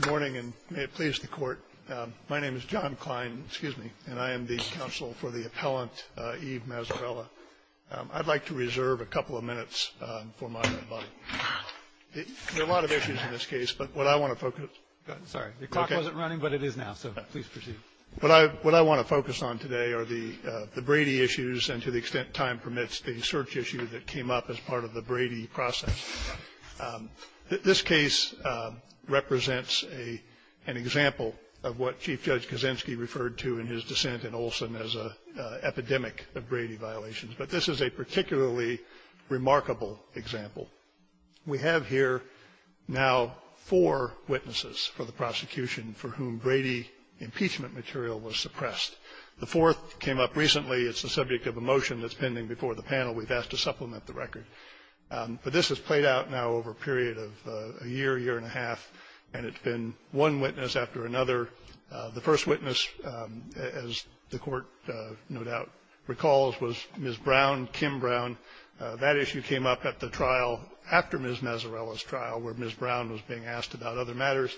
Good morning, and may it please the Court. My name is John Klein, and I am the counsel for the appellant, Eve Mazzarella. I'd like to reserve a couple of minutes for my buddy. There are a lot of issues in this case, but what I want to focus on today are the Brady issues and, to the extent time permits, the search issue that came up as part of the Brady process. This case represents an example of what Chief Judge Kaczynski referred to in his dissent in Olson as an epidemic of Brady violations, but this is a particularly remarkable example. We have here now four witnesses for the prosecution for whom Brady impeachment material was suppressed. The fourth came up recently. It's the subject of a motion that's pending before the panel. We've asked to supplement the record. But this has played out now over a period of a year, year and a half, and it's been one witness after another. The first witness, as the Court no doubt recalls, was Ms. Brown, Kim Brown. That issue came up at the trial after Ms. Mazzarella's trial, where Ms. Brown was being asked about other matters.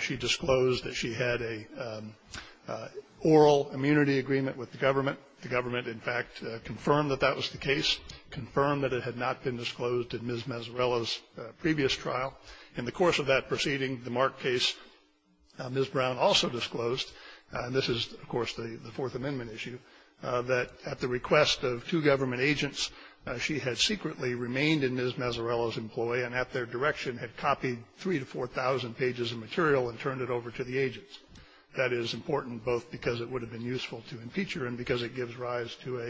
She disclosed that she had a oral immunity agreement with the government. The government, in fact, confirmed that that was the case, confirmed that it had not been disclosed in Ms. Mazzarella's previous trial. In the course of that proceeding, the Mark case, Ms. Brown also disclosed, and this is, of course, the Fourth Amendment issue, that at the request of two government agents, she had secretly remained in Ms. Mazzarella's employ and at their direction had copied 3,000 to 4,000 pages of material and turned it over to the agents. That is important both because it would have been useful to impeach her and because it gives rise to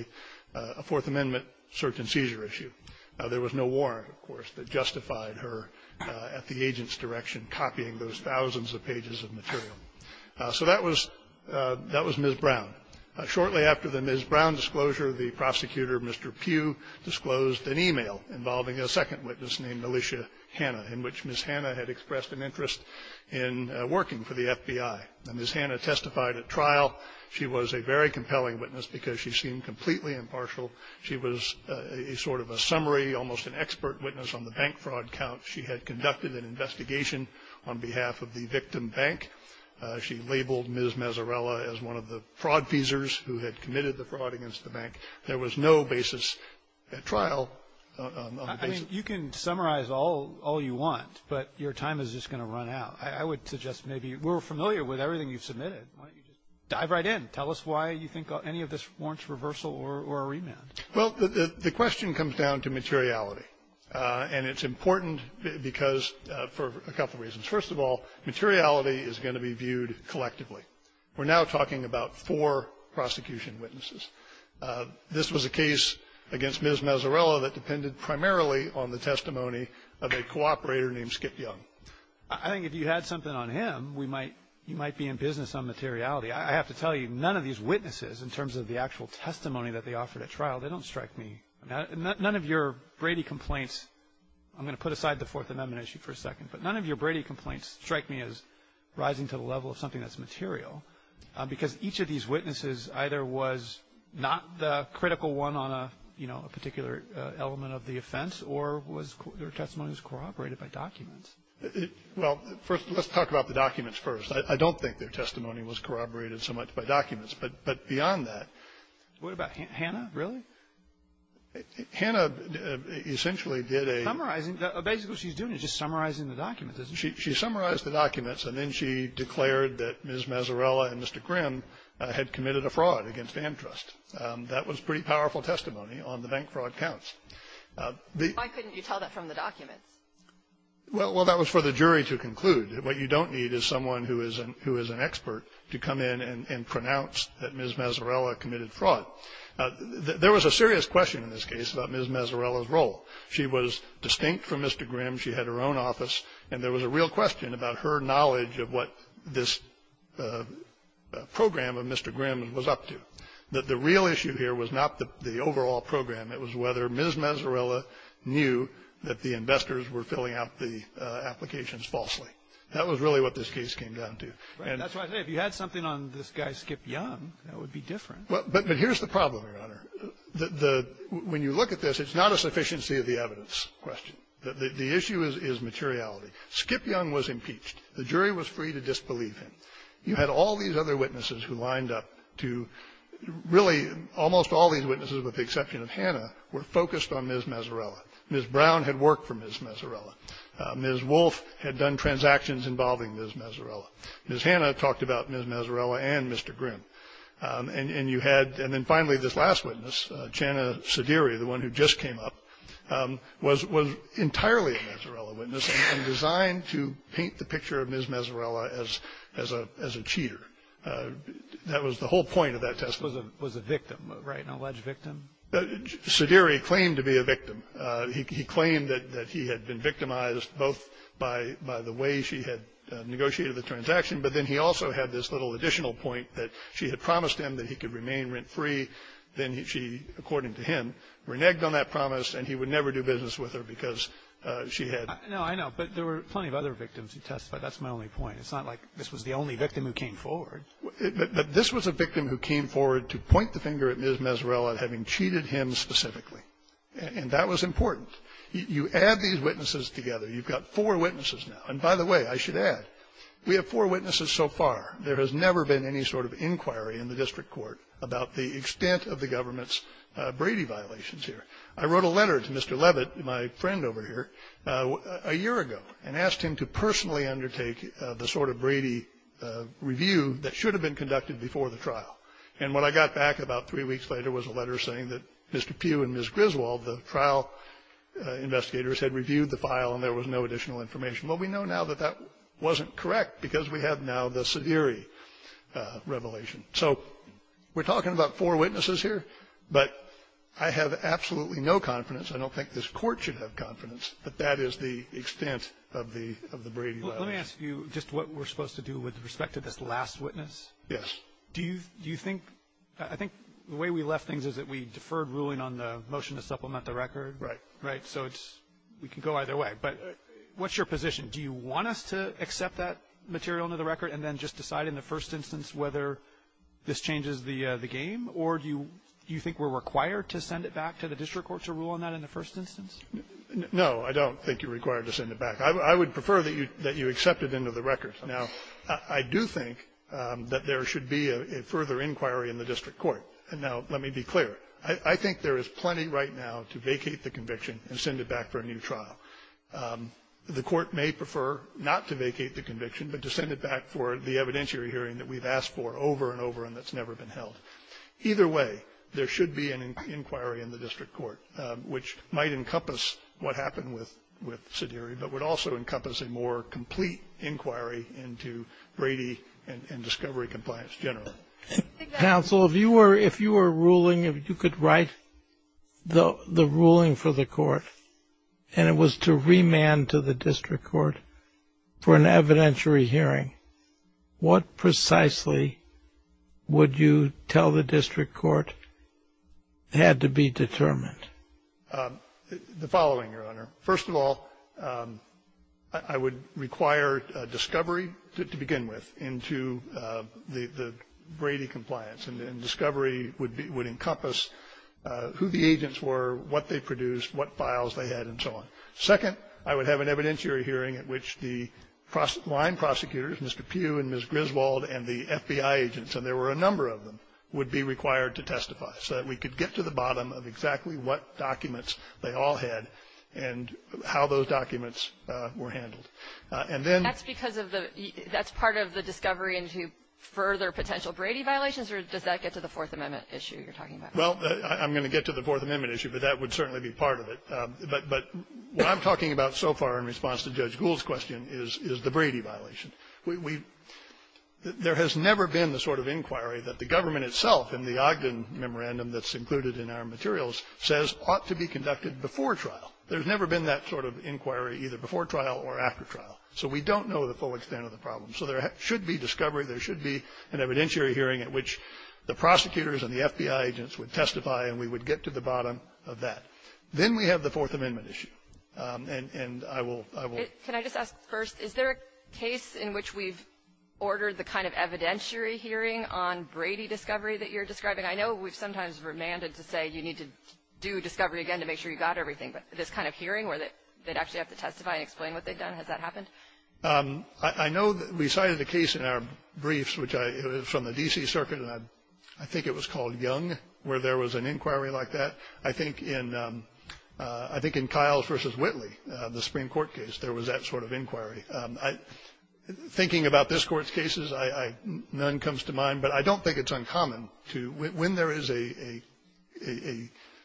a Fourth Amendment search-and-seizure issue. There was no warrant, of course, that justified her at the agent's direction copying those thousands of pages of material. So that was Ms. Brown. Shortly after the Ms. Brown disclosure, the prosecutor, Mr. Pugh, disclosed an e-mail involving a second witness named Alicia Hanna, in which Ms. Hanna had expressed an interest in working for the FBI. Ms. Hanna testified at trial. She was a very compelling witness because she seemed completely impartial. She was a sort of a summary, almost an expert witness on the bank fraud count. She had conducted an investigation on behalf of the victim bank. She labeled Ms. Mazzarella as one of the fraud-feasers who had committed the fraud against the bank. There was no basis at trial on the basis of that. I mean, you can summarize all you want, but your time is just going to run out. I would suggest maybe we're familiar with everything you've submitted. Why don't you just dive right in. Tell us why you think any of this warrants reversal or a remand. Well, the question comes down to materiality, and it's important because for a couple of reasons. First of all, materiality is going to be viewed collectively. We're now talking about four prosecution witnesses. This was a case against Ms. Mazzarella that depended primarily on the testimony of a cooperator named Skip Young. I think if you had something on him, we might be in business on materiality. I have to tell you, none of these witnesses, in terms of the actual testimony that they offered at trial, they don't strike me. None of your Brady complaints I'm going to put aside the Fourth Amendment issue for a second, but none of your Brady complaints strike me as rising to the level of something that's material because each of these witnesses either was not the critical one on a, you know, a particular element of the offense or was their testimony was corroborated by documents. Well, first, let's talk about the documents first. I don't think their testimony was corroborated so much by documents, but beyond that. What about Hannah? Really? Hannah essentially did a — Summarizing. Basically, what she's doing is just summarizing the documents. She summarized the documents, and then she declared that Ms. Mazzarella and Mr. Grimm had committed a fraud against Amtrust. That was pretty powerful testimony on the bank fraud counts. Why couldn't you tell that from the documents? Well, that was for the jury to conclude. What you don't need is someone who is an expert to come in and pronounce that Ms. Mazzarella committed fraud. There was a serious question in this case about Ms. Mazzarella's role. She was distinct from Mr. Grimm. She had her own office. And there was a real question about her knowledge of what this program of Mr. Grimm was up to. The real issue here was not the overall program. It was whether Ms. Mazzarella knew that the investors were filling out the applications falsely. That was really what this case came down to. Right. That's why I say if you had something on this guy Skip Young, that would be different. But here's the problem, Your Honor. When you look at this, it's not a sufficiency of the evidence question. The issue is materiality. Skip Young was impeached. The jury was free to disbelieve him. You had all these other witnesses who lined up to really almost all these witnesses with the exception of Hannah were focused on Ms. Mazzarella. Ms. Brown had worked for Ms. Mazzarella. Ms. Wolfe had done transactions involving Ms. Mazzarella. Ms. Hannah talked about Ms. Mazzarella and Mr. Grimm. And you had, and then finally this last witness, Channa Suderi, the one who just came up, was entirely a Mazzarella witness and designed to paint the picture of Ms. Mazzarella as a cheater. That was the whole point of that testimony. Was a victim, right, an alleged victim? Suderi claimed to be a victim. He claimed that he had been victimized both by the way she had negotiated the transaction, but then he also had this little additional point that she had promised him that he could remain rent-free. Then she, according to him, reneged on that promise, and he would never do business with her because she had. No, I know, but there were plenty of other victims who testified. That's my only point. It's not like this was the only victim who came forward. But this was a victim who came forward to point the finger at Ms. Mazzarella having cheated him specifically. And that was important. You add these witnesses together. You've got four witnesses now. And by the way, I should add. We have four witnesses so far. There has never been any sort of inquiry in the district court about the extent of the government's Brady violations here. I wrote a letter to Mr. Levitt, my friend over here, a year ago, and asked him to personally undertake the sort of Brady review that should have been conducted before the trial. And when I got back about three weeks later, there was a letter saying that Mr. Pugh and Ms. Griswold, the trial investigators, had reviewed the file and there was no additional information. Well, we know now that that wasn't correct because we have now the Severi revelation. So we're talking about four witnesses here, but I have absolutely no confidence. I don't think this Court should have confidence that that is the extent of the Brady violations. Roberts. Let me ask you just what we're supposed to do with respect to this last witness. Yes. Do you think the way we left things is that we deferred ruling on the motion to supplement the record. Right. Right. So it's we can go either way. But what's your position? Do you want us to accept that material into the record and then just decide in the first instance whether this changes the game? Or do you think we're required to send it back to the district court to rule on that in the first instance? No. I don't think you're required to send it back. I would prefer that you accept it into the record. Now, I do think that there should be a further inquiry in the district court. And now let me be clear. I think there is plenty right now to vacate the conviction and send it back for a new trial. The Court may prefer not to vacate the conviction, but to send it back for the evidentiary hearing that we've asked for over and over and that's never been held. Either way, there should be an inquiry in the district court, which might encompass what happened with Sidiri, but would also encompass a more complete inquiry into Brady and discovery compliance generally. Counsel, if you were ruling, if you could write the ruling for the court and it was to remand to the district court for an evidentiary hearing, what precisely would you tell the district court had to be determined? The following, Your Honor. First of all, I would require discovery to begin with into the district court's Brady compliance, and discovery would encompass who the agents were, what they produced, what files they had, and so on. Second, I would have an evidentiary hearing at which the line prosecutors, Mr. Pugh and Ms. Griswold and the FBI agents, and there were a number of them, would be required to testify so that we could get to the bottom of exactly what documents they all had and how those documents were handled. And then the next part of the discovery into further potential Brady violations or does that get to the Fourth Amendment issue you're talking about? Well, I'm going to get to the Fourth Amendment issue, but that would certainly be part of it. But what I'm talking about so far in response to Judge Gould's question is the Brady violation. We've we've there has never been the sort of inquiry that the government itself in the Ogden memorandum that's included in our materials says ought to be conducted before trial. There's never been that sort of inquiry either before trial or after trial. So we don't know the full extent of the problem. So there should be discovery. There should be an evidentiary hearing at which the prosecutors and the FBI agents would testify and we would get to the bottom of that. Then we have the Fourth Amendment issue. And I will, I will Can I just ask first, is there a case in which we've ordered the kind of evidentiary hearing on Brady discovery that you're describing? I know we've sometimes remanded to say you need to do discovery again to make sure you got everything. But this kind of hearing where they'd actually have to testify and explain what they've done, has that happened? I know that we cited a case in our briefs, which I it was from the D.C. Circuit, and I think it was called Young, where there was an inquiry like that. I think in I think in Kyle's versus Whitley, the Supreme Court case, there was that sort of inquiry. I thinking about this Court's cases, I none comes to mind. But I don't think it's uncommon to when there is a, you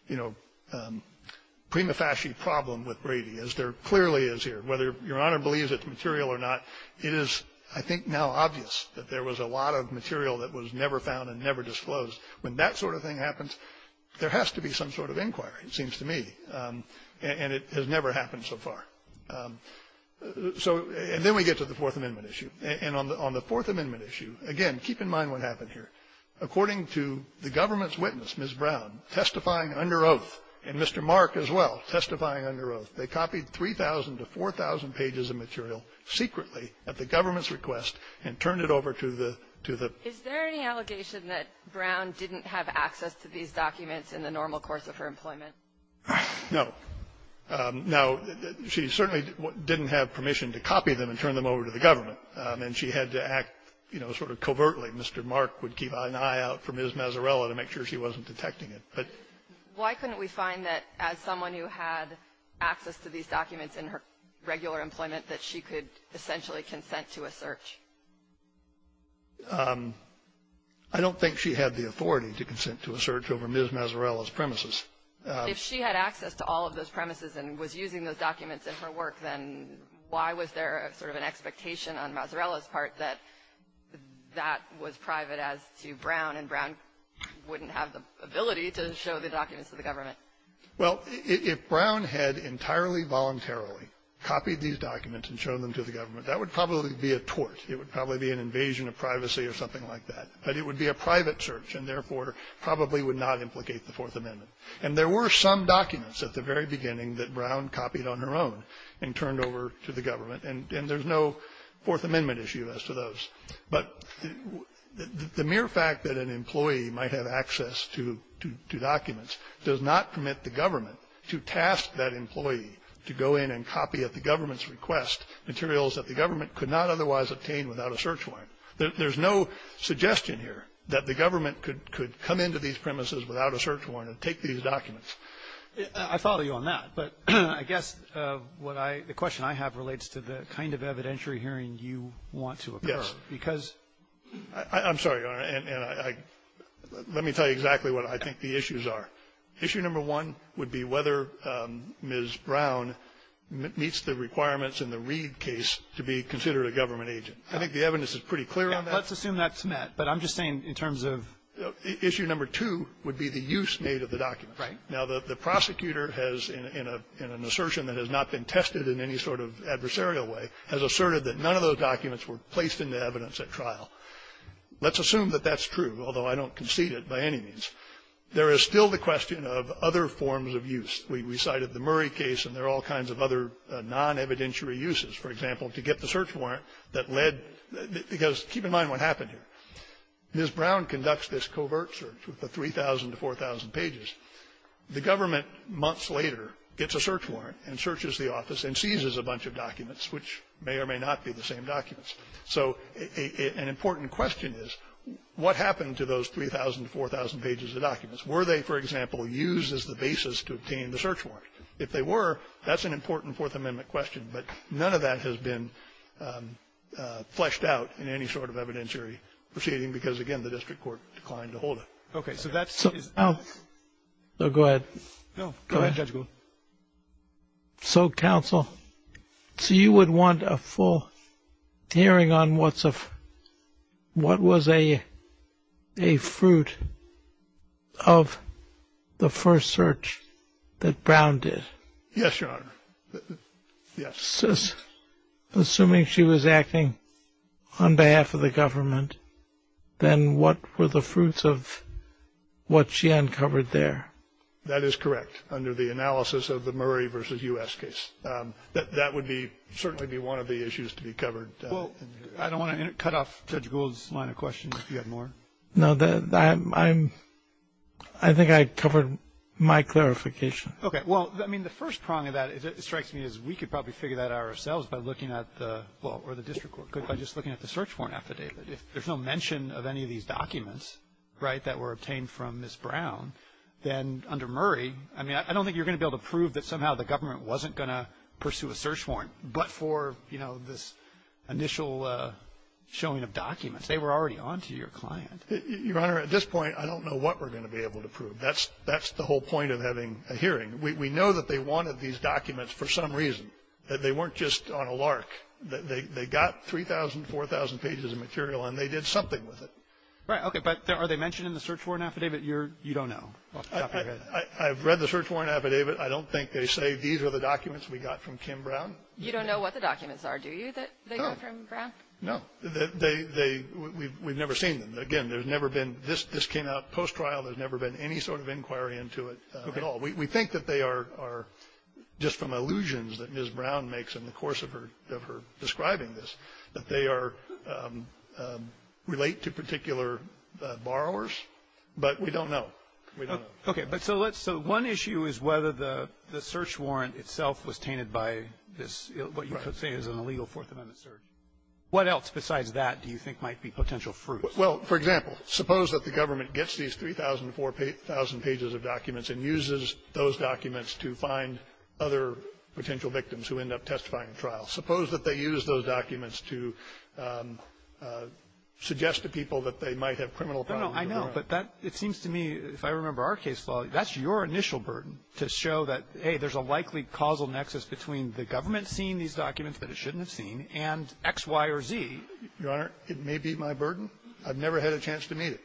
know, prima facie problem with Brady, as there clearly is here, whether Your Honor believes it's material or not. It is, I think, now obvious that there was a lot of material that was never found and never disclosed. When that sort of thing happens, there has to be some sort of inquiry, it seems to me, and it has never happened so far. So and then we get to the Fourth Amendment issue. And on the Fourth Amendment issue, again, keep in mind what happened here. According to the government's witness, Ms. Brown, testifying under oath, and Mr. Mark as well, testifying under oath, they copied 3,000 to 4,000 pages of material secretly at the government's request and turned it over to the to the Is there any allegation that Brown didn't have access to these documents in the normal course of her employment? No. Now, she certainly didn't have permission to copy them and turn them over to the government. And she had to act, you know, sort of covertly. Mr. Mark would keep an eye out for Ms. Mazzarella to make sure she wasn't detecting it. But why couldn't we find that as someone who had access to these documents in her regular employment that she could essentially consent to a search? I don't think she had the authority to consent to a search over Ms. Mazzarella's premises. If she had access to all of those premises and was using those documents in her work, then why was there sort of an expectation on Mazzarella's part that that was private as to Brown, and Brown wouldn't have the ability to show the documents to the government? Well, if Brown had entirely voluntarily copied these documents and shown them to the government, that would probably be a tort. It would probably be an invasion of privacy or something like that. But it would be a private search and, therefore, probably would not implicate the Fourth Amendment. And there were some documents at the very beginning that Brown copied on her own. And turned over to the government. And there's no Fourth Amendment issue as to those. But the mere fact that an employee might have access to documents does not permit the government to task that employee to go in and copy at the government's request materials that the government could not otherwise obtain without a search warrant. There's no suggestion here that the government could come into these premises without a search warrant and take these documents. I follow you on that. But I guess what I the question I have relates to the kind of evidentiary hearing you want to occur. Yes. Because ---- I'm sorry, Your Honor. And I let me tell you exactly what I think the issues are. Issue number one would be whether Ms. Brown meets the requirements in the Reed case to be considered a government agent. I think the evidence is pretty clear on that. Let's assume that's met. But I'm just saying in terms of ---- Issue number two would be the use made of the document. Right. Now, the prosecutor has, in an assertion that has not been tested in any sort of adversarial way, has asserted that none of those documents were placed into evidence at trial. Let's assume that that's true, although I don't concede it by any means. There is still the question of other forms of use. We cited the Murray case, and there are all kinds of other non-evidentiary uses, for example, to get the search warrant that led ---- because keep in mind what happened here. Ms. Brown conducts this covert search with the 3,000 to 4,000 pages. The government, months later, gets a search warrant and searches the office and seizes a bunch of documents which may or may not be the same documents. So an important question is what happened to those 3,000 to 4,000 pages of documents? Were they, for example, used as the basis to obtain the search warrant? If they were, that's an important Fourth Amendment question. But none of that has been fleshed out in any sort of evidentiary proceeding because, again, the district court declined to hold it. OK. So that's ---- Oh, go ahead. No, go ahead, Judge Gould. So, counsel, so you would want a full hearing on what was a fruit of the first search that Brown did? Yes, Your Honor. Yes. Assuming she was acting on behalf of the government, then what were the fruits of what she uncovered there? That is correct, under the analysis of the Murray versus U.S. case. That would be, certainly be one of the issues to be covered. Well, I don't want to cut off Judge Gould's line of question if you have more. No, I think I covered my clarification. OK. Well, I mean, the first prong of that, it strikes me as we could probably figure that out ourselves by looking at the, well, or the district court, by just looking at the search warrant affidavit. If there's no mention of any of these documents, right, that were obtained from Ms. Brown, then under Murray, I mean, I don't think you're going to be able to prove that somehow the government wasn't going to pursue a search warrant, but for, you know, this initial showing of documents. They were already on to your client. Your Honor, at this point, I don't know what we're going to be able to prove. That's the whole point of having a hearing. We know that they wanted these documents for some reason. They weren't just on a lark. They got 3,000, 4,000 pages of material, and they did something with it. Right. OK. But are they mentioned in the search warrant affidavit? You're, you don't know off the top of your head. I've read the search warrant affidavit. I don't think they say these are the documents we got from Kim Brown. You don't know what the documents are, do you, that they got from Brown? No. They, we've never seen them. Again, there's never been, this came out post-trial. There's never been any sort of inquiry into it at all. We think that they are just from allusions that Ms. Brown makes in the course of her, of her describing this, that they are, relate to particular borrowers. But we don't know. We don't know. OK. But so let's, so one issue is whether the, the search warrant itself was tainted by this, what you could say is an illegal Fourth Amendment search. What else besides that do you think might be potential fruit? Well, for example, suppose that the government gets these 3,000, 4,000 pages of documents and uses those documents to find other potential victims who end up testifying in trial. Suppose that they use those documents to suggest to people that they might have criminal problems. No, no, I know, but that, it seems to me, if I remember our case law, that's your initial burden, to show that, hey, there's a likely causal nexus between the government seeing these documents that it shouldn't have seen and X, Y, or Z. Your Honor, it may be my burden. I've never had a chance to meet it.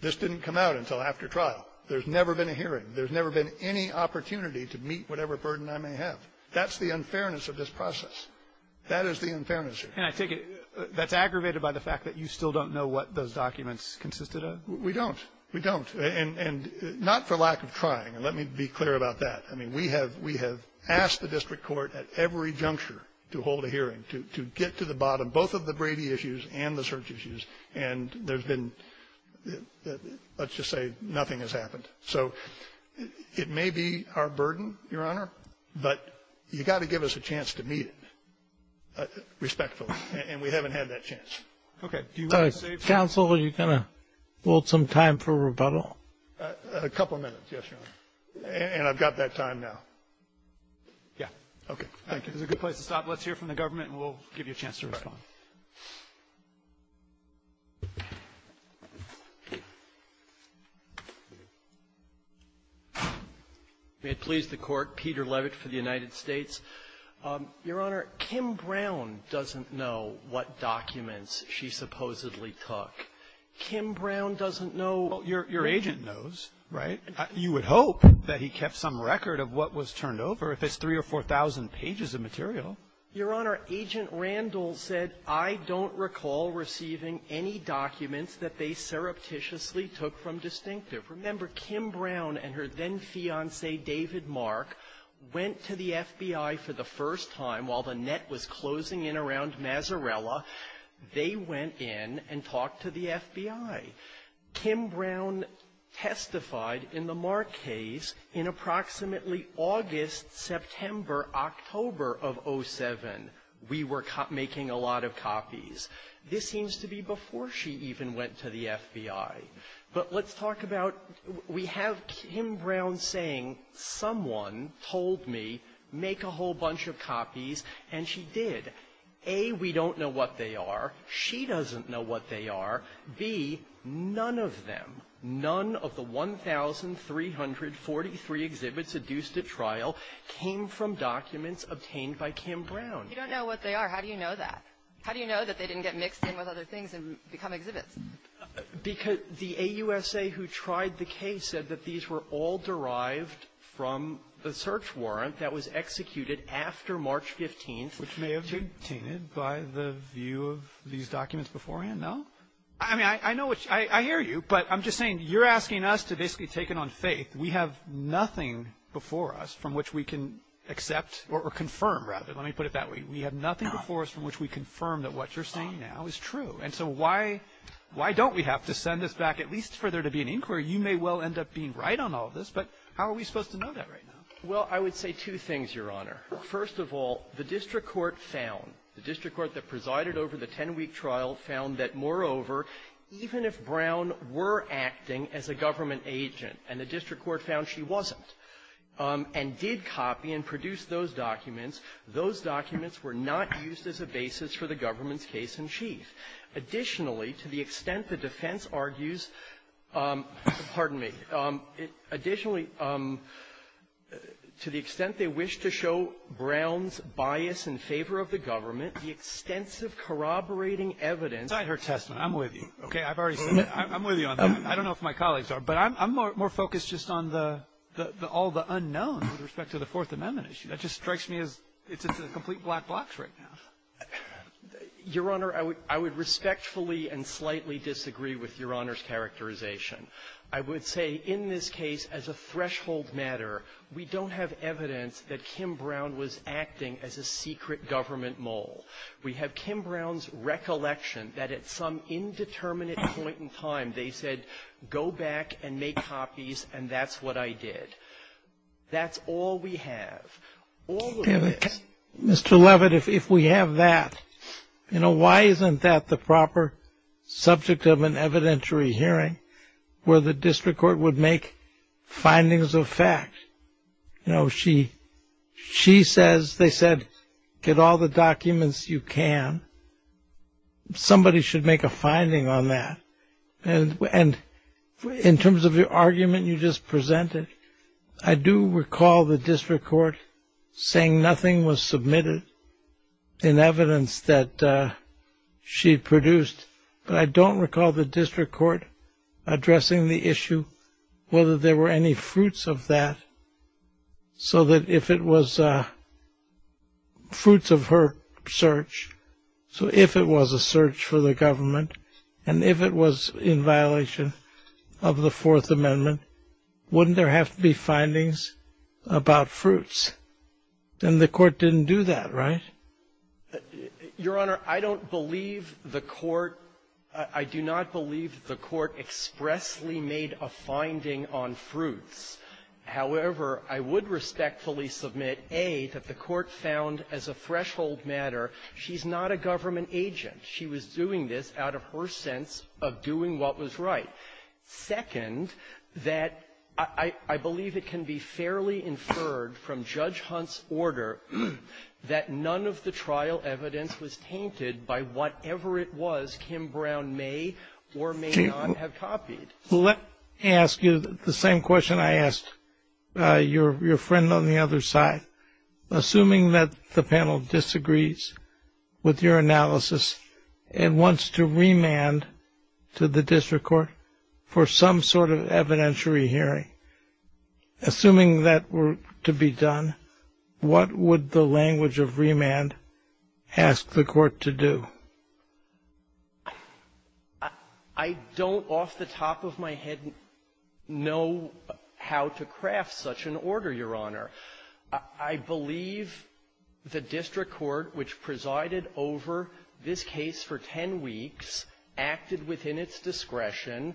This didn't come out until after trial. There's never been a hearing. There's never been any opportunity to meet whatever burden I may have. That's the unfairness of this process. That is the unfairness here. And I take it that's aggravated by the fact that you still don't know what those documents consisted of? We don't. We don't. And not for lack of trying, and let me be clear about that. I mean, we have asked the district court at every juncture to hold a hearing, to get to the bottom, both of the Brady issues and the search issues, and there's been, let's just say nothing has happened. So it may be our burden, Your Honor, but you've got to give us a chance to meet it respectfully, and we haven't had that chance. Okay. Do you want to save time? Counsel, are you going to hold some time for rebuttal? A couple of minutes, yes, Your Honor, and I've got that time now. Yeah. Okay. Thank you. It's a good place to stop. Let's hear from the government, and we'll give you a chance to respond. All right. May it please the Court. Peter Levitt for the United States. Your Honor, Kim Brown doesn't know what documents she supposedly took. Kim Brown doesn't know what she took. Well, your agent knows, right? You would hope that he kept some record of what was turned over, if it's 3,000 or 4,000 pages of material. Your Honor, Agent Randall said, I don't recall receiving any documents that they surreptitiously took from Distinctive. Remember, Kim Brown and her then-fiancé, David Mark, went to the FBI for the first time while the Net was closing in around Mazzarella. They went in and talked to the FBI. Kim Brown testified in the Mark case in approximately August, September, October of 07, we were making a lot of copies. This seems to be before she even went to the FBI. But let's talk about, we have Kim Brown saying, someone told me, make a whole bunch of copies, and she did. A, we don't know what they are. She doesn't know what they are. B, none of them, none of the 1,343 exhibits that were seduced at trial came from documents obtained by Kim Brown. You don't know what they are. How do you know that? How do you know that they didn't get mixed in with other things and become exhibits? Because the AUSA who tried the case said that these were all derived from the search warrant that was executed after March 15th. Which may have been obtained by the view of these documents beforehand. No? I mean, I know what you're saying. I hear you. But I'm just saying, you're asking us to basically take it on faith. We have nothing before us from which we can accept or confirm, rather. Let me put it that way. We have nothing before us from which we confirm that what you're saying now is true. And so why don't we have to send this back, at least for there to be an inquiry? You may well end up being right on all of this, but how are we supposed to know that right now? Well, I would say two things, Your Honor. First of all, the district court found, the district court that presided over the 10-week trial found that, moreover, even if Brown were acting as a government agent, and the district court found she wasn't, and did copy and produce those documents, those documents were not used as a basis for the government's case-in-chief. Additionally, to the extent the defense argues, pardon me, additionally, to the extent they wish to show Brown's bias in favor of the government, the extensive corroborating evidence of her testimony --- I'm with you. Okay? I've already said that. I'm with you on that one. I don't know if my colleagues are, but I'm more focused just on the unknown with respect to the Fourth Amendment issue. That just strikes me as it's a complete black box right now. Your Honor, I would respectfully and slightly disagree with Your Honor's characterization. I would say in this case, as a threshold matter, we don't have evidence that Kim Brown was acting as a secret government mole. We have Kim Brown's recollection that at some indeterminate point in time, they said go back and make copies, and that's what I did. That's all we have. All of this. Mr. Levitt, if we have that, you know, why isn't that the proper subject of an evidentiary hearing where the district court would make findings of fact? You know, she says, they said, get all the documents you can. Somebody should make a finding on that. And in terms of your argument you just presented, I do recall the district court saying nothing was submitted in evidence that she produced. But I don't recall the district court addressing the issue, whether there were any fruits of that, so that if it was fruits of her search, so if it was a search for the government, and if it was in violation of the Fourth Amendment, wouldn't there have to be findings about fruits? Then the court didn't do that, right? Your Honor, I don't believe the court — I do not believe the court expressly made a finding on fruits. However, I would respectfully submit, A, that the court found as a threshold matter she's not a government agent. She was doing this out of her sense of doing what was right. Second, that I believe it can be fairly inferred from Judge Hunt's order that none of the trial evidence was tainted by whatever it was Kim Brown may or may not have copied. Let me ask you the same question I asked your friend on the other side. Assuming that the panel disagrees with your analysis and wants to remand to the district court for some sort of evidentiary hearing, assuming that were to be done, what would the language of remand ask the court to do? I don't, off the top of my head, know how to craft such an order, Your Honor. I believe the district court, which presided over this case for 10 weeks, acted within its discretion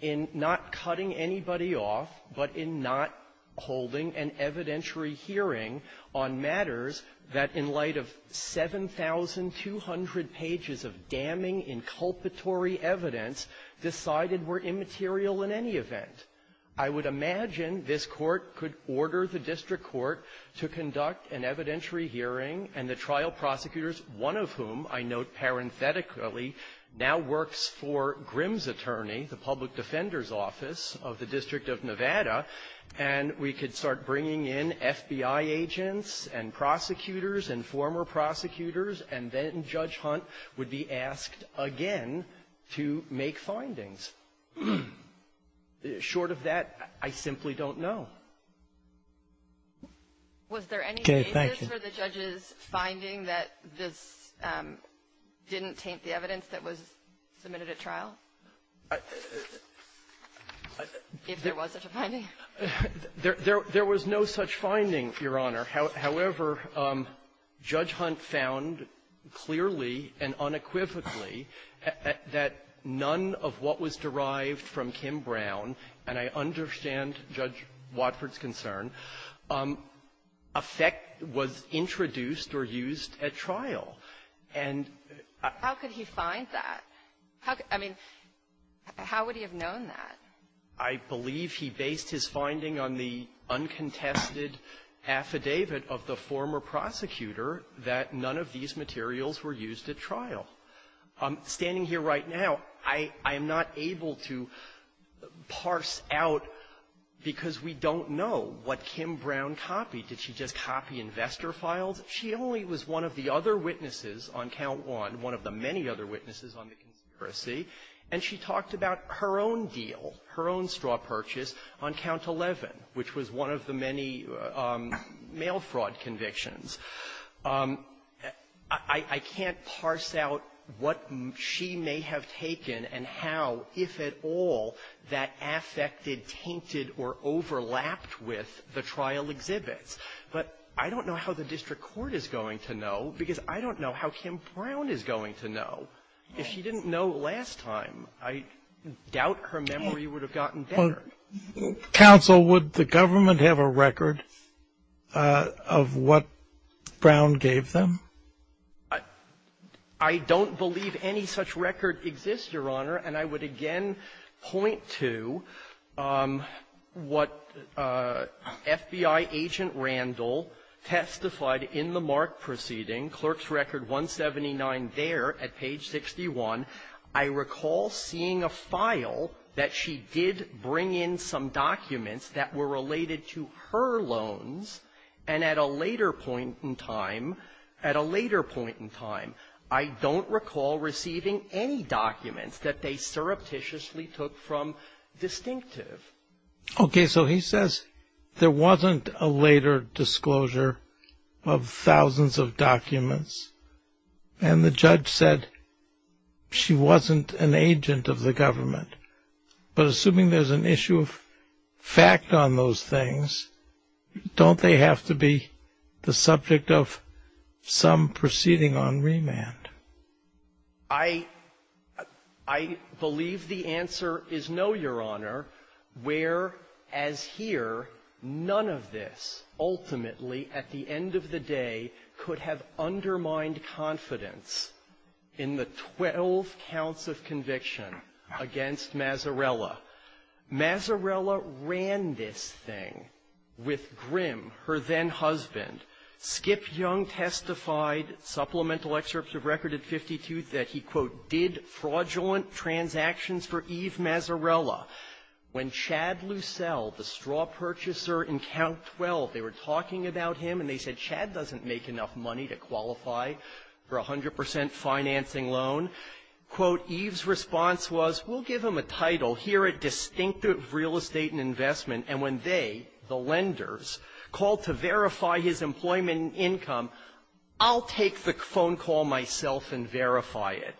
in not cutting anybody off, but in not holding an evidentiary hearing on matters that, in light of 7,200 pages of damning, inculpatory evidence, decided were immaterial in any event. I would imagine this Court could order the district court to conduct an evidentiary hearing, and the trial prosecutors, one of whom I note parenthetically, now works for Grimm's attorney, the public defender's office of the District of Nevada, and we could start bringing in FBI agents and prosecutors and former prosecutors, and then Judge Hunt would be asked again to make findings. Short of that, I simply don't know. Was there any basis for the judge's finding that this didn't taint the evidence that was submitted at trial, if there was such a finding? There was no such finding, Your Honor. However, Judge Hunt found clearly and unequivocally that none of what was presented was derived from Kim Brown, and I understand Judge Watford's concern. Affect was introduced or used at trial. And I --- How could he find that? I mean, how would he have known that? I believe he based his finding on the uncontested affidavit of the former prosecutor that none of these materials were used at trial. Standing here right now, I am not able to parse out, because we don't know, what Kim Brown copied. Did she just copy investor files? She only was one of the other witnesses on Count 1, one of the many other witnesses on the conspiracy, and she talked about her own deal, her own straw purchase on Count 11, which was one of the many mail fraud convictions. I can't parse out what she may have taken and how, if at all, that affected, tainted, or overlapped with the trial exhibits. But I don't know how the district court is going to know, because I don't know how Kim Brown is going to know. If she didn't know last time, I doubt her memory would have gotten better. Counsel, would the government have a record of what Brown gave them? I don't believe any such record exists, Your Honor. And I would again point to what FBI agent Randall testified in the Mark proceeding, clerk's record 179 there at page 61. I recall seeing a file that she did bring in some documents that were related to her loans, and at a later point in time, at a later point in time, I don't recall receiving any documents that they surreptitiously took from Distinctive. Okay, so he says there wasn't a later disclosure of thousands of documents, and the judge said she wasn't an agent of the government. But assuming there's an issue of fact on those things, don't they have to be the subject of some proceeding on remand? I believe the answer is no, Your Honor, where, as here, none of this ultimately, at the end of the day, could have undermined confidence in the 12 counts of conviction against Mazzarella. Mazzarella ran this thing with Grimm, her then-husband. Skip Young testified, supplemental excerpts of record at 52, that he, quote, did fraudulent transactions for Eve Mazzarella. When Chad Lucelle, the straw purchaser in Count 12, they were talking about him, and they said Chad doesn't make enough money to qualify for a 100 percent financing loan, quote, Eve's response was, we'll give him a title. Here at Distinctive Real Estate and Investment. And when they, the lenders, called to verify his employment income, I'll take the phone call myself and verify it.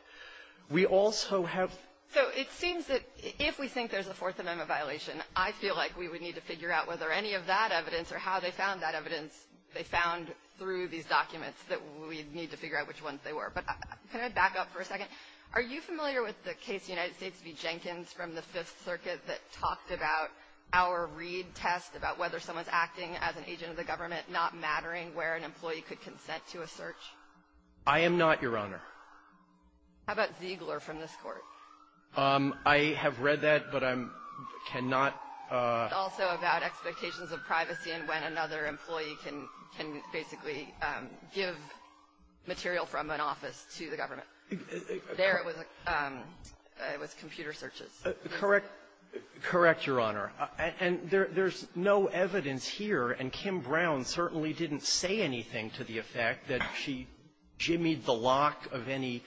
We also have. So it seems that if we think there's a Fourth Amendment violation, I feel like we would need to figure out whether any of that evidence or how they found that evidence they found through these documents, that we need to figure out which ones they were. But can I back up for a second? Are you familiar with the case of the United States v. Jenkins from the Fifth Circuit that talked about our Reed test, about whether someone's acting as an agent of the government, not mattering where an employee could consent to a search? I am not, Your Honor. How about Ziegler from this Court? I have read that, but I'm, cannot. It's also about expectations of privacy and when another employee can, basically, give material from an office to the government. There it was, it was computer searches. Correct. Correct, Your Honor. And there's no evidence here. And Kim Brown certainly didn't say anything to the effect that she jimmied the lock of any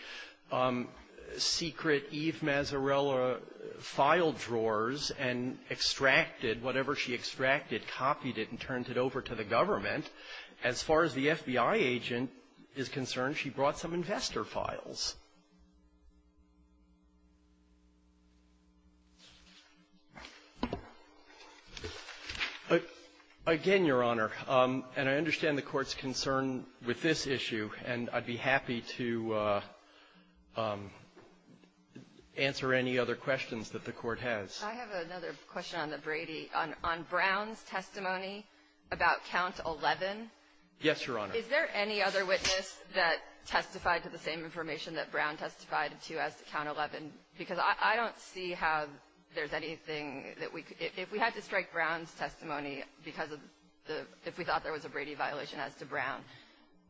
secret Eve Mazzarella file drawers and extracted whatever she extracted, copied it, and turned it over to the government. As far as the FBI agent is concerned, she brought some investor files. Again, Your Honor, and I understand the Court's concern with this issue, and I'd be happy to answer any other questions that the Court has. I have another question on the Brady. On Brown's testimony about Count 11? Yes, Your Honor. Is there any other witness that testified to the same information that Brown testified to as to Count 11? Because I don't see how there's anything that we could, if we had to strike Brown's testimony because of the, if we thought there was a Brady violation as to Brown,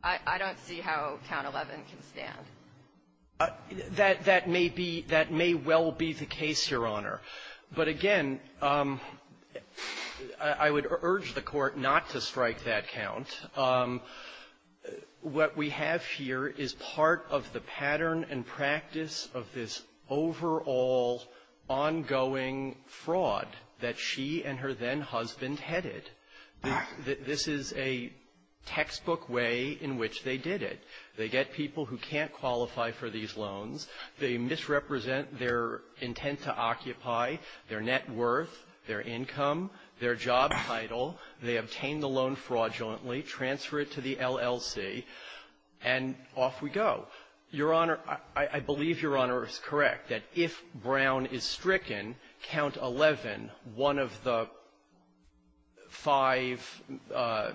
I don't see how Count 11 can stand. That may be, that may well be the case, Your Honor. But, again, I would urge the Court not to strike that count. What we have here is part of the pattern and practice of this overall, ongoing fraud that she and her then-husband headed. This is a textbook way in which they did it. They get people who can't qualify for these loans. They misrepresent their intent to occupy, their net worth, their income, their job title. They obtain the loan fraudulently, transfer it to the LLC, and off we go. Your Honor, I believe Your Honor is correct that if Brown is stricken, Count 11, one of the five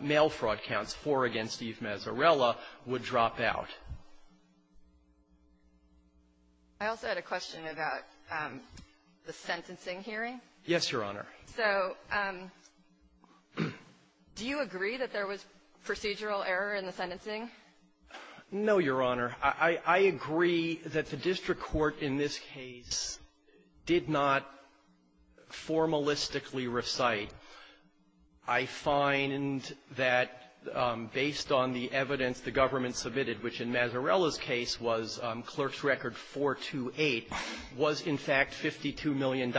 mail fraud counts, four against Eve Mazzarella, would drop out of the case. I also had a question about the sentencing hearing. Yes, Your Honor. So do you agree that there was procedural error in the sentencing? No, Your Honor. I agree that the district court in this case did not formalistically recite. I find that based on the evidence the government submitted, which in Mazzarella's case was clerk's record 428, was in fact $52 million,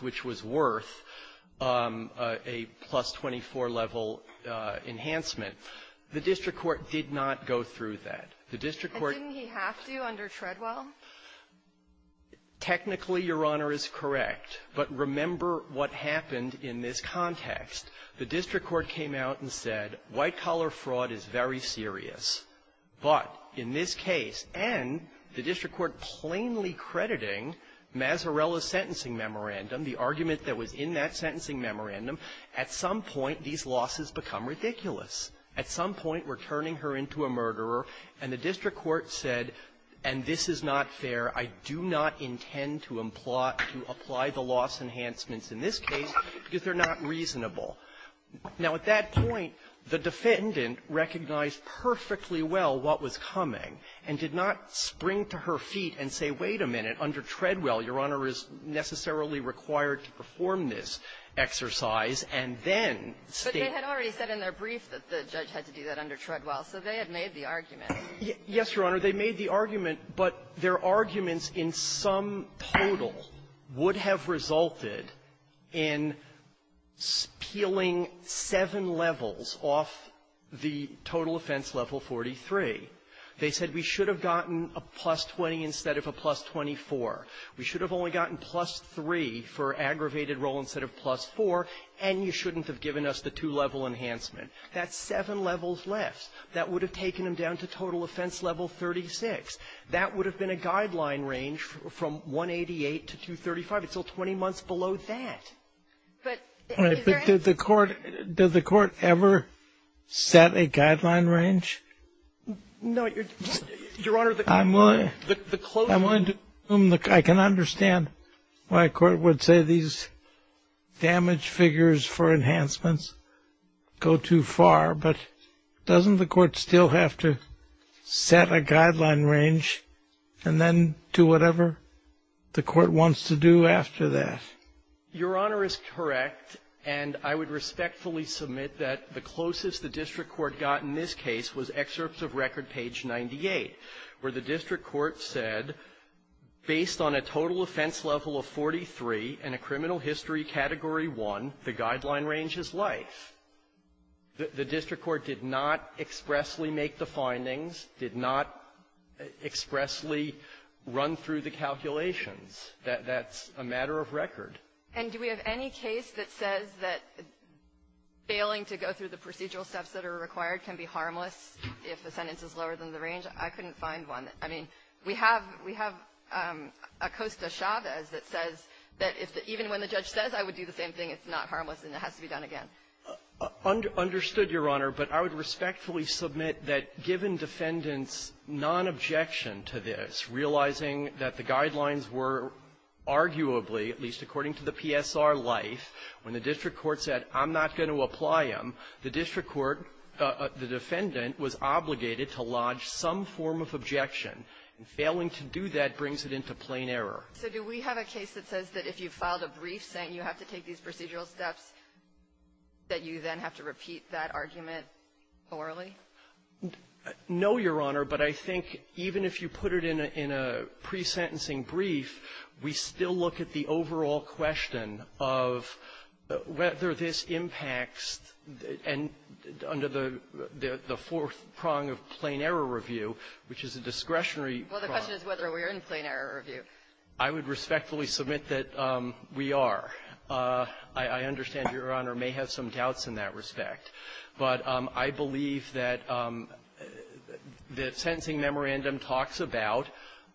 which was worth a plus-24 level enhancement. The district court did not go through that. The district court did not go through that. And didn't he have to under Treadwell? Technically, Your Honor, is correct. But remember what happened in this context. The district court came out and said, white-collar fraud is very serious. But in this case, and the district court plainly crediting Mazzarella's sentencing memorandum, the argument that was in that sentencing memorandum, at some point, these losses become ridiculous. At some point, we're turning her into a murderer. And the district court said, and this is not fair. I do not intend to apply the loss enhancements in this case because they're not reasonable. Now, at that point, the defendant recognized perfectly well what was coming and did not spring to her feet and say, wait a minute, under Treadwell, Your Honor, is necessarily required to perform this exercise, and then state the facts. But they had already said in their brief that the judge had to do that under Treadwell. So they had made the argument. Yes, Your Honor. They made the argument, but their arguments in some total would have resulted in peeling seven levels off the total offense level 43. They said we should have gotten a plus 20 instead of a plus 24. We should have only gotten plus 3 for aggravated role instead of plus 4. And you shouldn't have given us the two-level enhancement. That's seven levels left. That would have taken them down to total offense level 36. That would have been a guideline range from 188 to 235. It's still 20 months below that. But is there any ---- But did the Court ever set a guideline range? No, Your Honor, the closing ---- I'm willing to assume that I can understand why a court would say these damage figures for enhancements go too far. But doesn't the Court still have to set a guideline range and then do whatever the Court wants to do after that? Your Honor is correct. And I would respectfully submit that the closest the district court got in this case was excerpts of record page 98, where the district court said, based on a total offense level of 43 and a criminal history category 1, the guideline range is life. The district court did not expressly make the findings, did not expressly run through the calculations. That's a matter of record. And do we have any case that says that failing to go through the procedural steps that are required can be harmless if the sentence is lower than the range? I couldn't find one. I mean, we have Acosta-Chavez that says that if the ---- even when the judge says I would do the same thing, it's not harmless and it has to be done again. Understood, Your Honor. But I would respectfully submit that given defendants' nonobjection to this, realizing that the guidelines were arguably, at least according to the PSR life, when the district court said I'm not going to apply them, the district court, the defendant, was obligated to lodge some form of objection. And failing to do that brings it into plain error. So do we have a case that says that if you filed a brief saying you have to take these procedural steps, that you then have to repeat that argument orally? No, Your Honor. But I think even if you put it in a pre-sentencing brief, we still look at the overall question of whether this impacts, and under the fourth prong of plain error review, which is a discretionary prong. Well, the question is whether we're in plain error review. I would respectfully submit that we are. I understand, Your Honor, may have some doubts in that respect. But I believe that the sentencing memorandum talks about,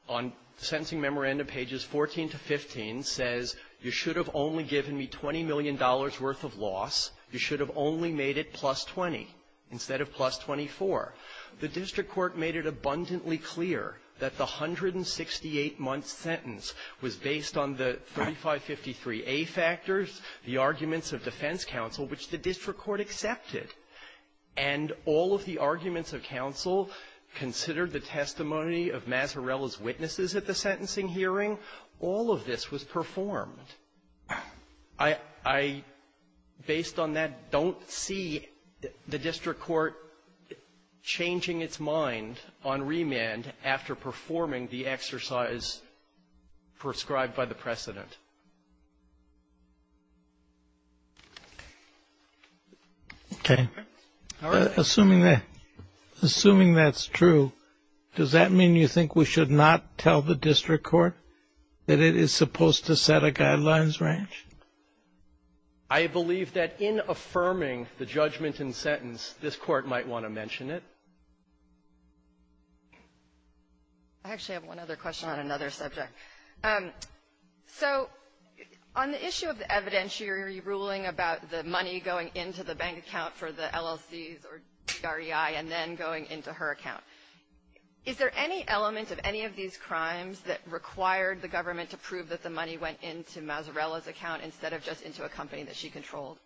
on sentencing memorandum pages 14 to 15, says you should have only given me $20 million worth of loss. You should have only made it plus 20 instead of plus 24. The district court made it abundantly clear that the 168-month sentence was based on the 3553a factors, the arguments of defense counsel, which the district court accepted, and all of the arguments of counsel considered the testimony of Mazzarella's witnesses at the sentencing hearing. All of this was performed. I don't see the district court changing its mind on remand after performing the exercise prescribed by the precedent. Okay. Assuming that's true, does that mean you think we should not tell the district court that it is supposed to set a guidelines range? I believe that in affirming the judgment in sentence, this Court might want to mention it. I actually have one other question on another subject. So on the issue of the evidentiary ruling about the money going into the bank account for the LLCs or DREI and then going into her account, is there any element of any of these crimes that required the government to prove that the money went into Mazzarella's account instead of just into a company that she controlled?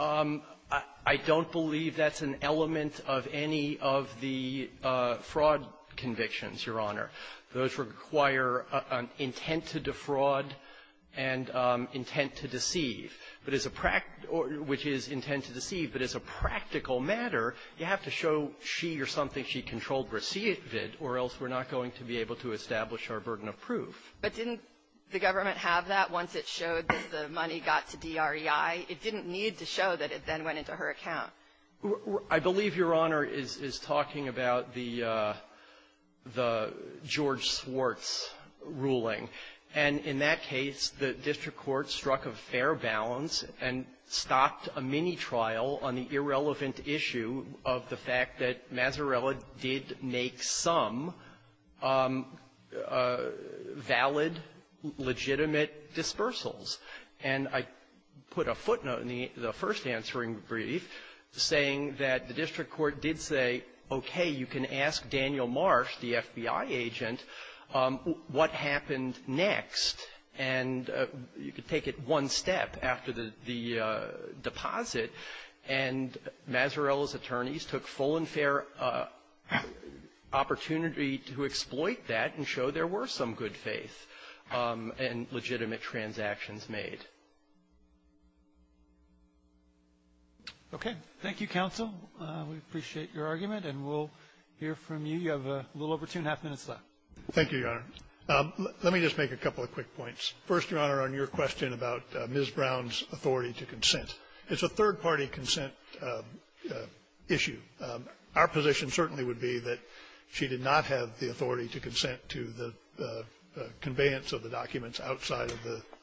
I don't believe that's an element of any of the fraud convictions, Your Honor. Those require an intent to defraud and intent to deceive. But as a practical or which is intent to deceive, but as a practical matter, you have to show she or something she controlled received it, or else we're not going to be able to establish our burden of proof. But didn't the government have that once it showed that the money got to DREI? It didn't need to show that it then went into her account. I believe Your Honor is talking about the George Swartz ruling. And in that case, the district court struck a fair balance and stopped a mini-trial on the irrelevant issue of the fact that Mazzarella did make some valid, legitimate dispersals. And I put a footnote in the first answering brief saying that the district court did say, okay, you can ask Daniel Marsh, the FBI agent, what happened next. And you could take it one step after the deposit. And Mazzarella's attorneys took full and fair opportunity to exploit that and show there were some good faith and legitimate transactions made. Roberts. Okay. Thank you, counsel. We appreciate your argument. And we'll hear from you. You have a little over two and a half minutes left. Thank you, Your Honor. Let me just make a couple of quick points. First, Your Honor, on your question about Ms. Brown's authority to consent. It's a third-party consent issue. Our position certainly would be that she did not have the authority to consent to the conveyance of the documents outside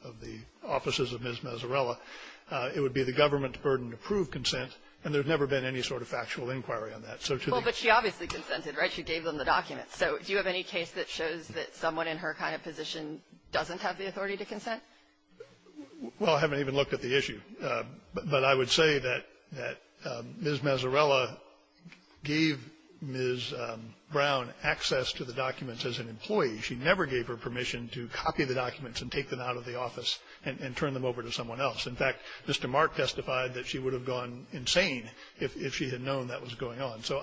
of the offices of Ms. Mazzarella. It would be the government's burden to prove consent, and there's never been any sort of factual inquiry on that. So to the question of Ms. Brown's authority to consent, it's a third-party consent issue. But I would say that Ms. Mazzarella gave Ms. Brown access to the documents as an employee. She never gave her permission to copy the documents and take them out of the office and turn them over to someone else. In fact, Mr. Mark testified that she would have gone insane if she had known that was going on. So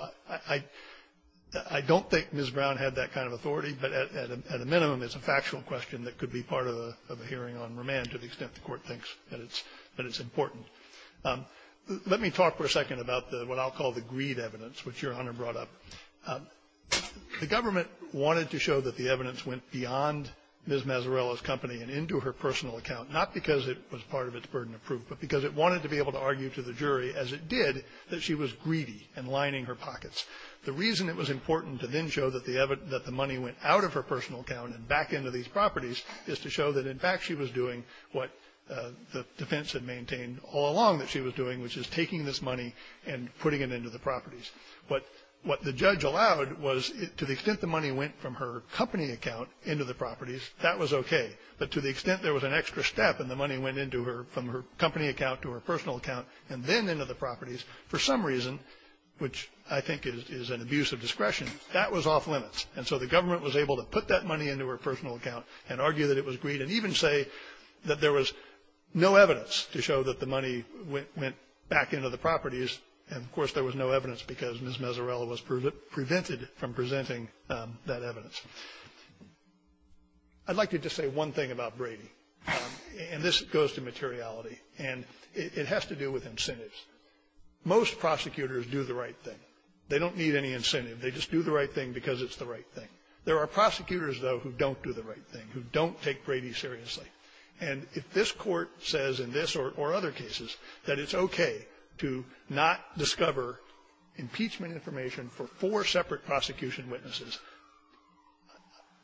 I don't think Ms. Brown had that kind of authority, but at a minimum, it's a factual question that could be part of a hearing on remand to the extent the Court thinks that it's important. Let me talk for a second about what I'll call the greed evidence, which Your Honor brought up. The government wanted to show that the evidence went beyond Ms. Mazzarella's company and into her personal account, not because it was part of its burden of proof, but because it wanted to be able to argue to the jury, as it did, that she was greedy and lining her pockets. The reason it was important to then show that the money went out of her personal account and back into these the defense had maintained all along that she was doing, which is taking this money and putting it into the properties. But what the judge allowed was to the extent the money went from her company account into the properties, that was okay. But to the extent there was an extra step and the money went into her from her company account to her personal account and then into the properties, for some reason, which I think is an abuse of discretion, that was off-limits. And so the government was able to put that money into her personal account and argue that it was greed and even say that there was no evidence to show that the money went back into the properties. And, of course, there was no evidence because Ms. Mazzarella was prevented from presenting that evidence. I'd like to just say one thing about Brady, and this goes to materiality, and it has to do with incentives. Most prosecutors do the right thing. They don't need any incentive. They just do the right thing because it's the right thing. There are prosecutors, though, who don't do the right thing, who don't take Brady seriously. And if this Court says in this or other cases that it's okay to not discover impeachment information for four separate prosecution witnesses,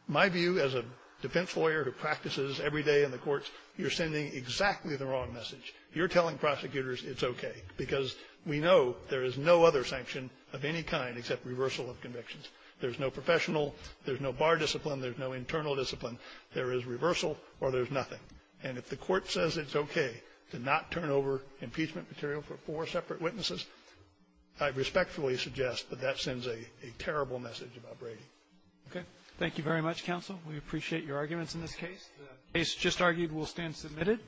my view as a defense lawyer who practices every day in the courts, you're sending exactly the wrong message. You're telling prosecutors it's okay because we know there is no other sanction of any kind except reversal of convictions. There's no professional, there's no bar discipline, there's no internal discipline. There is reversal or there's nothing. And if the Court says it's okay to not turn over impeachment material for four separate witnesses, I respectfully suggest that that sends a terrible message about Brady. Roberts. Okay. Thank you very much, counsel. We appreciate your arguments in this case. The case just argued will stand submitted.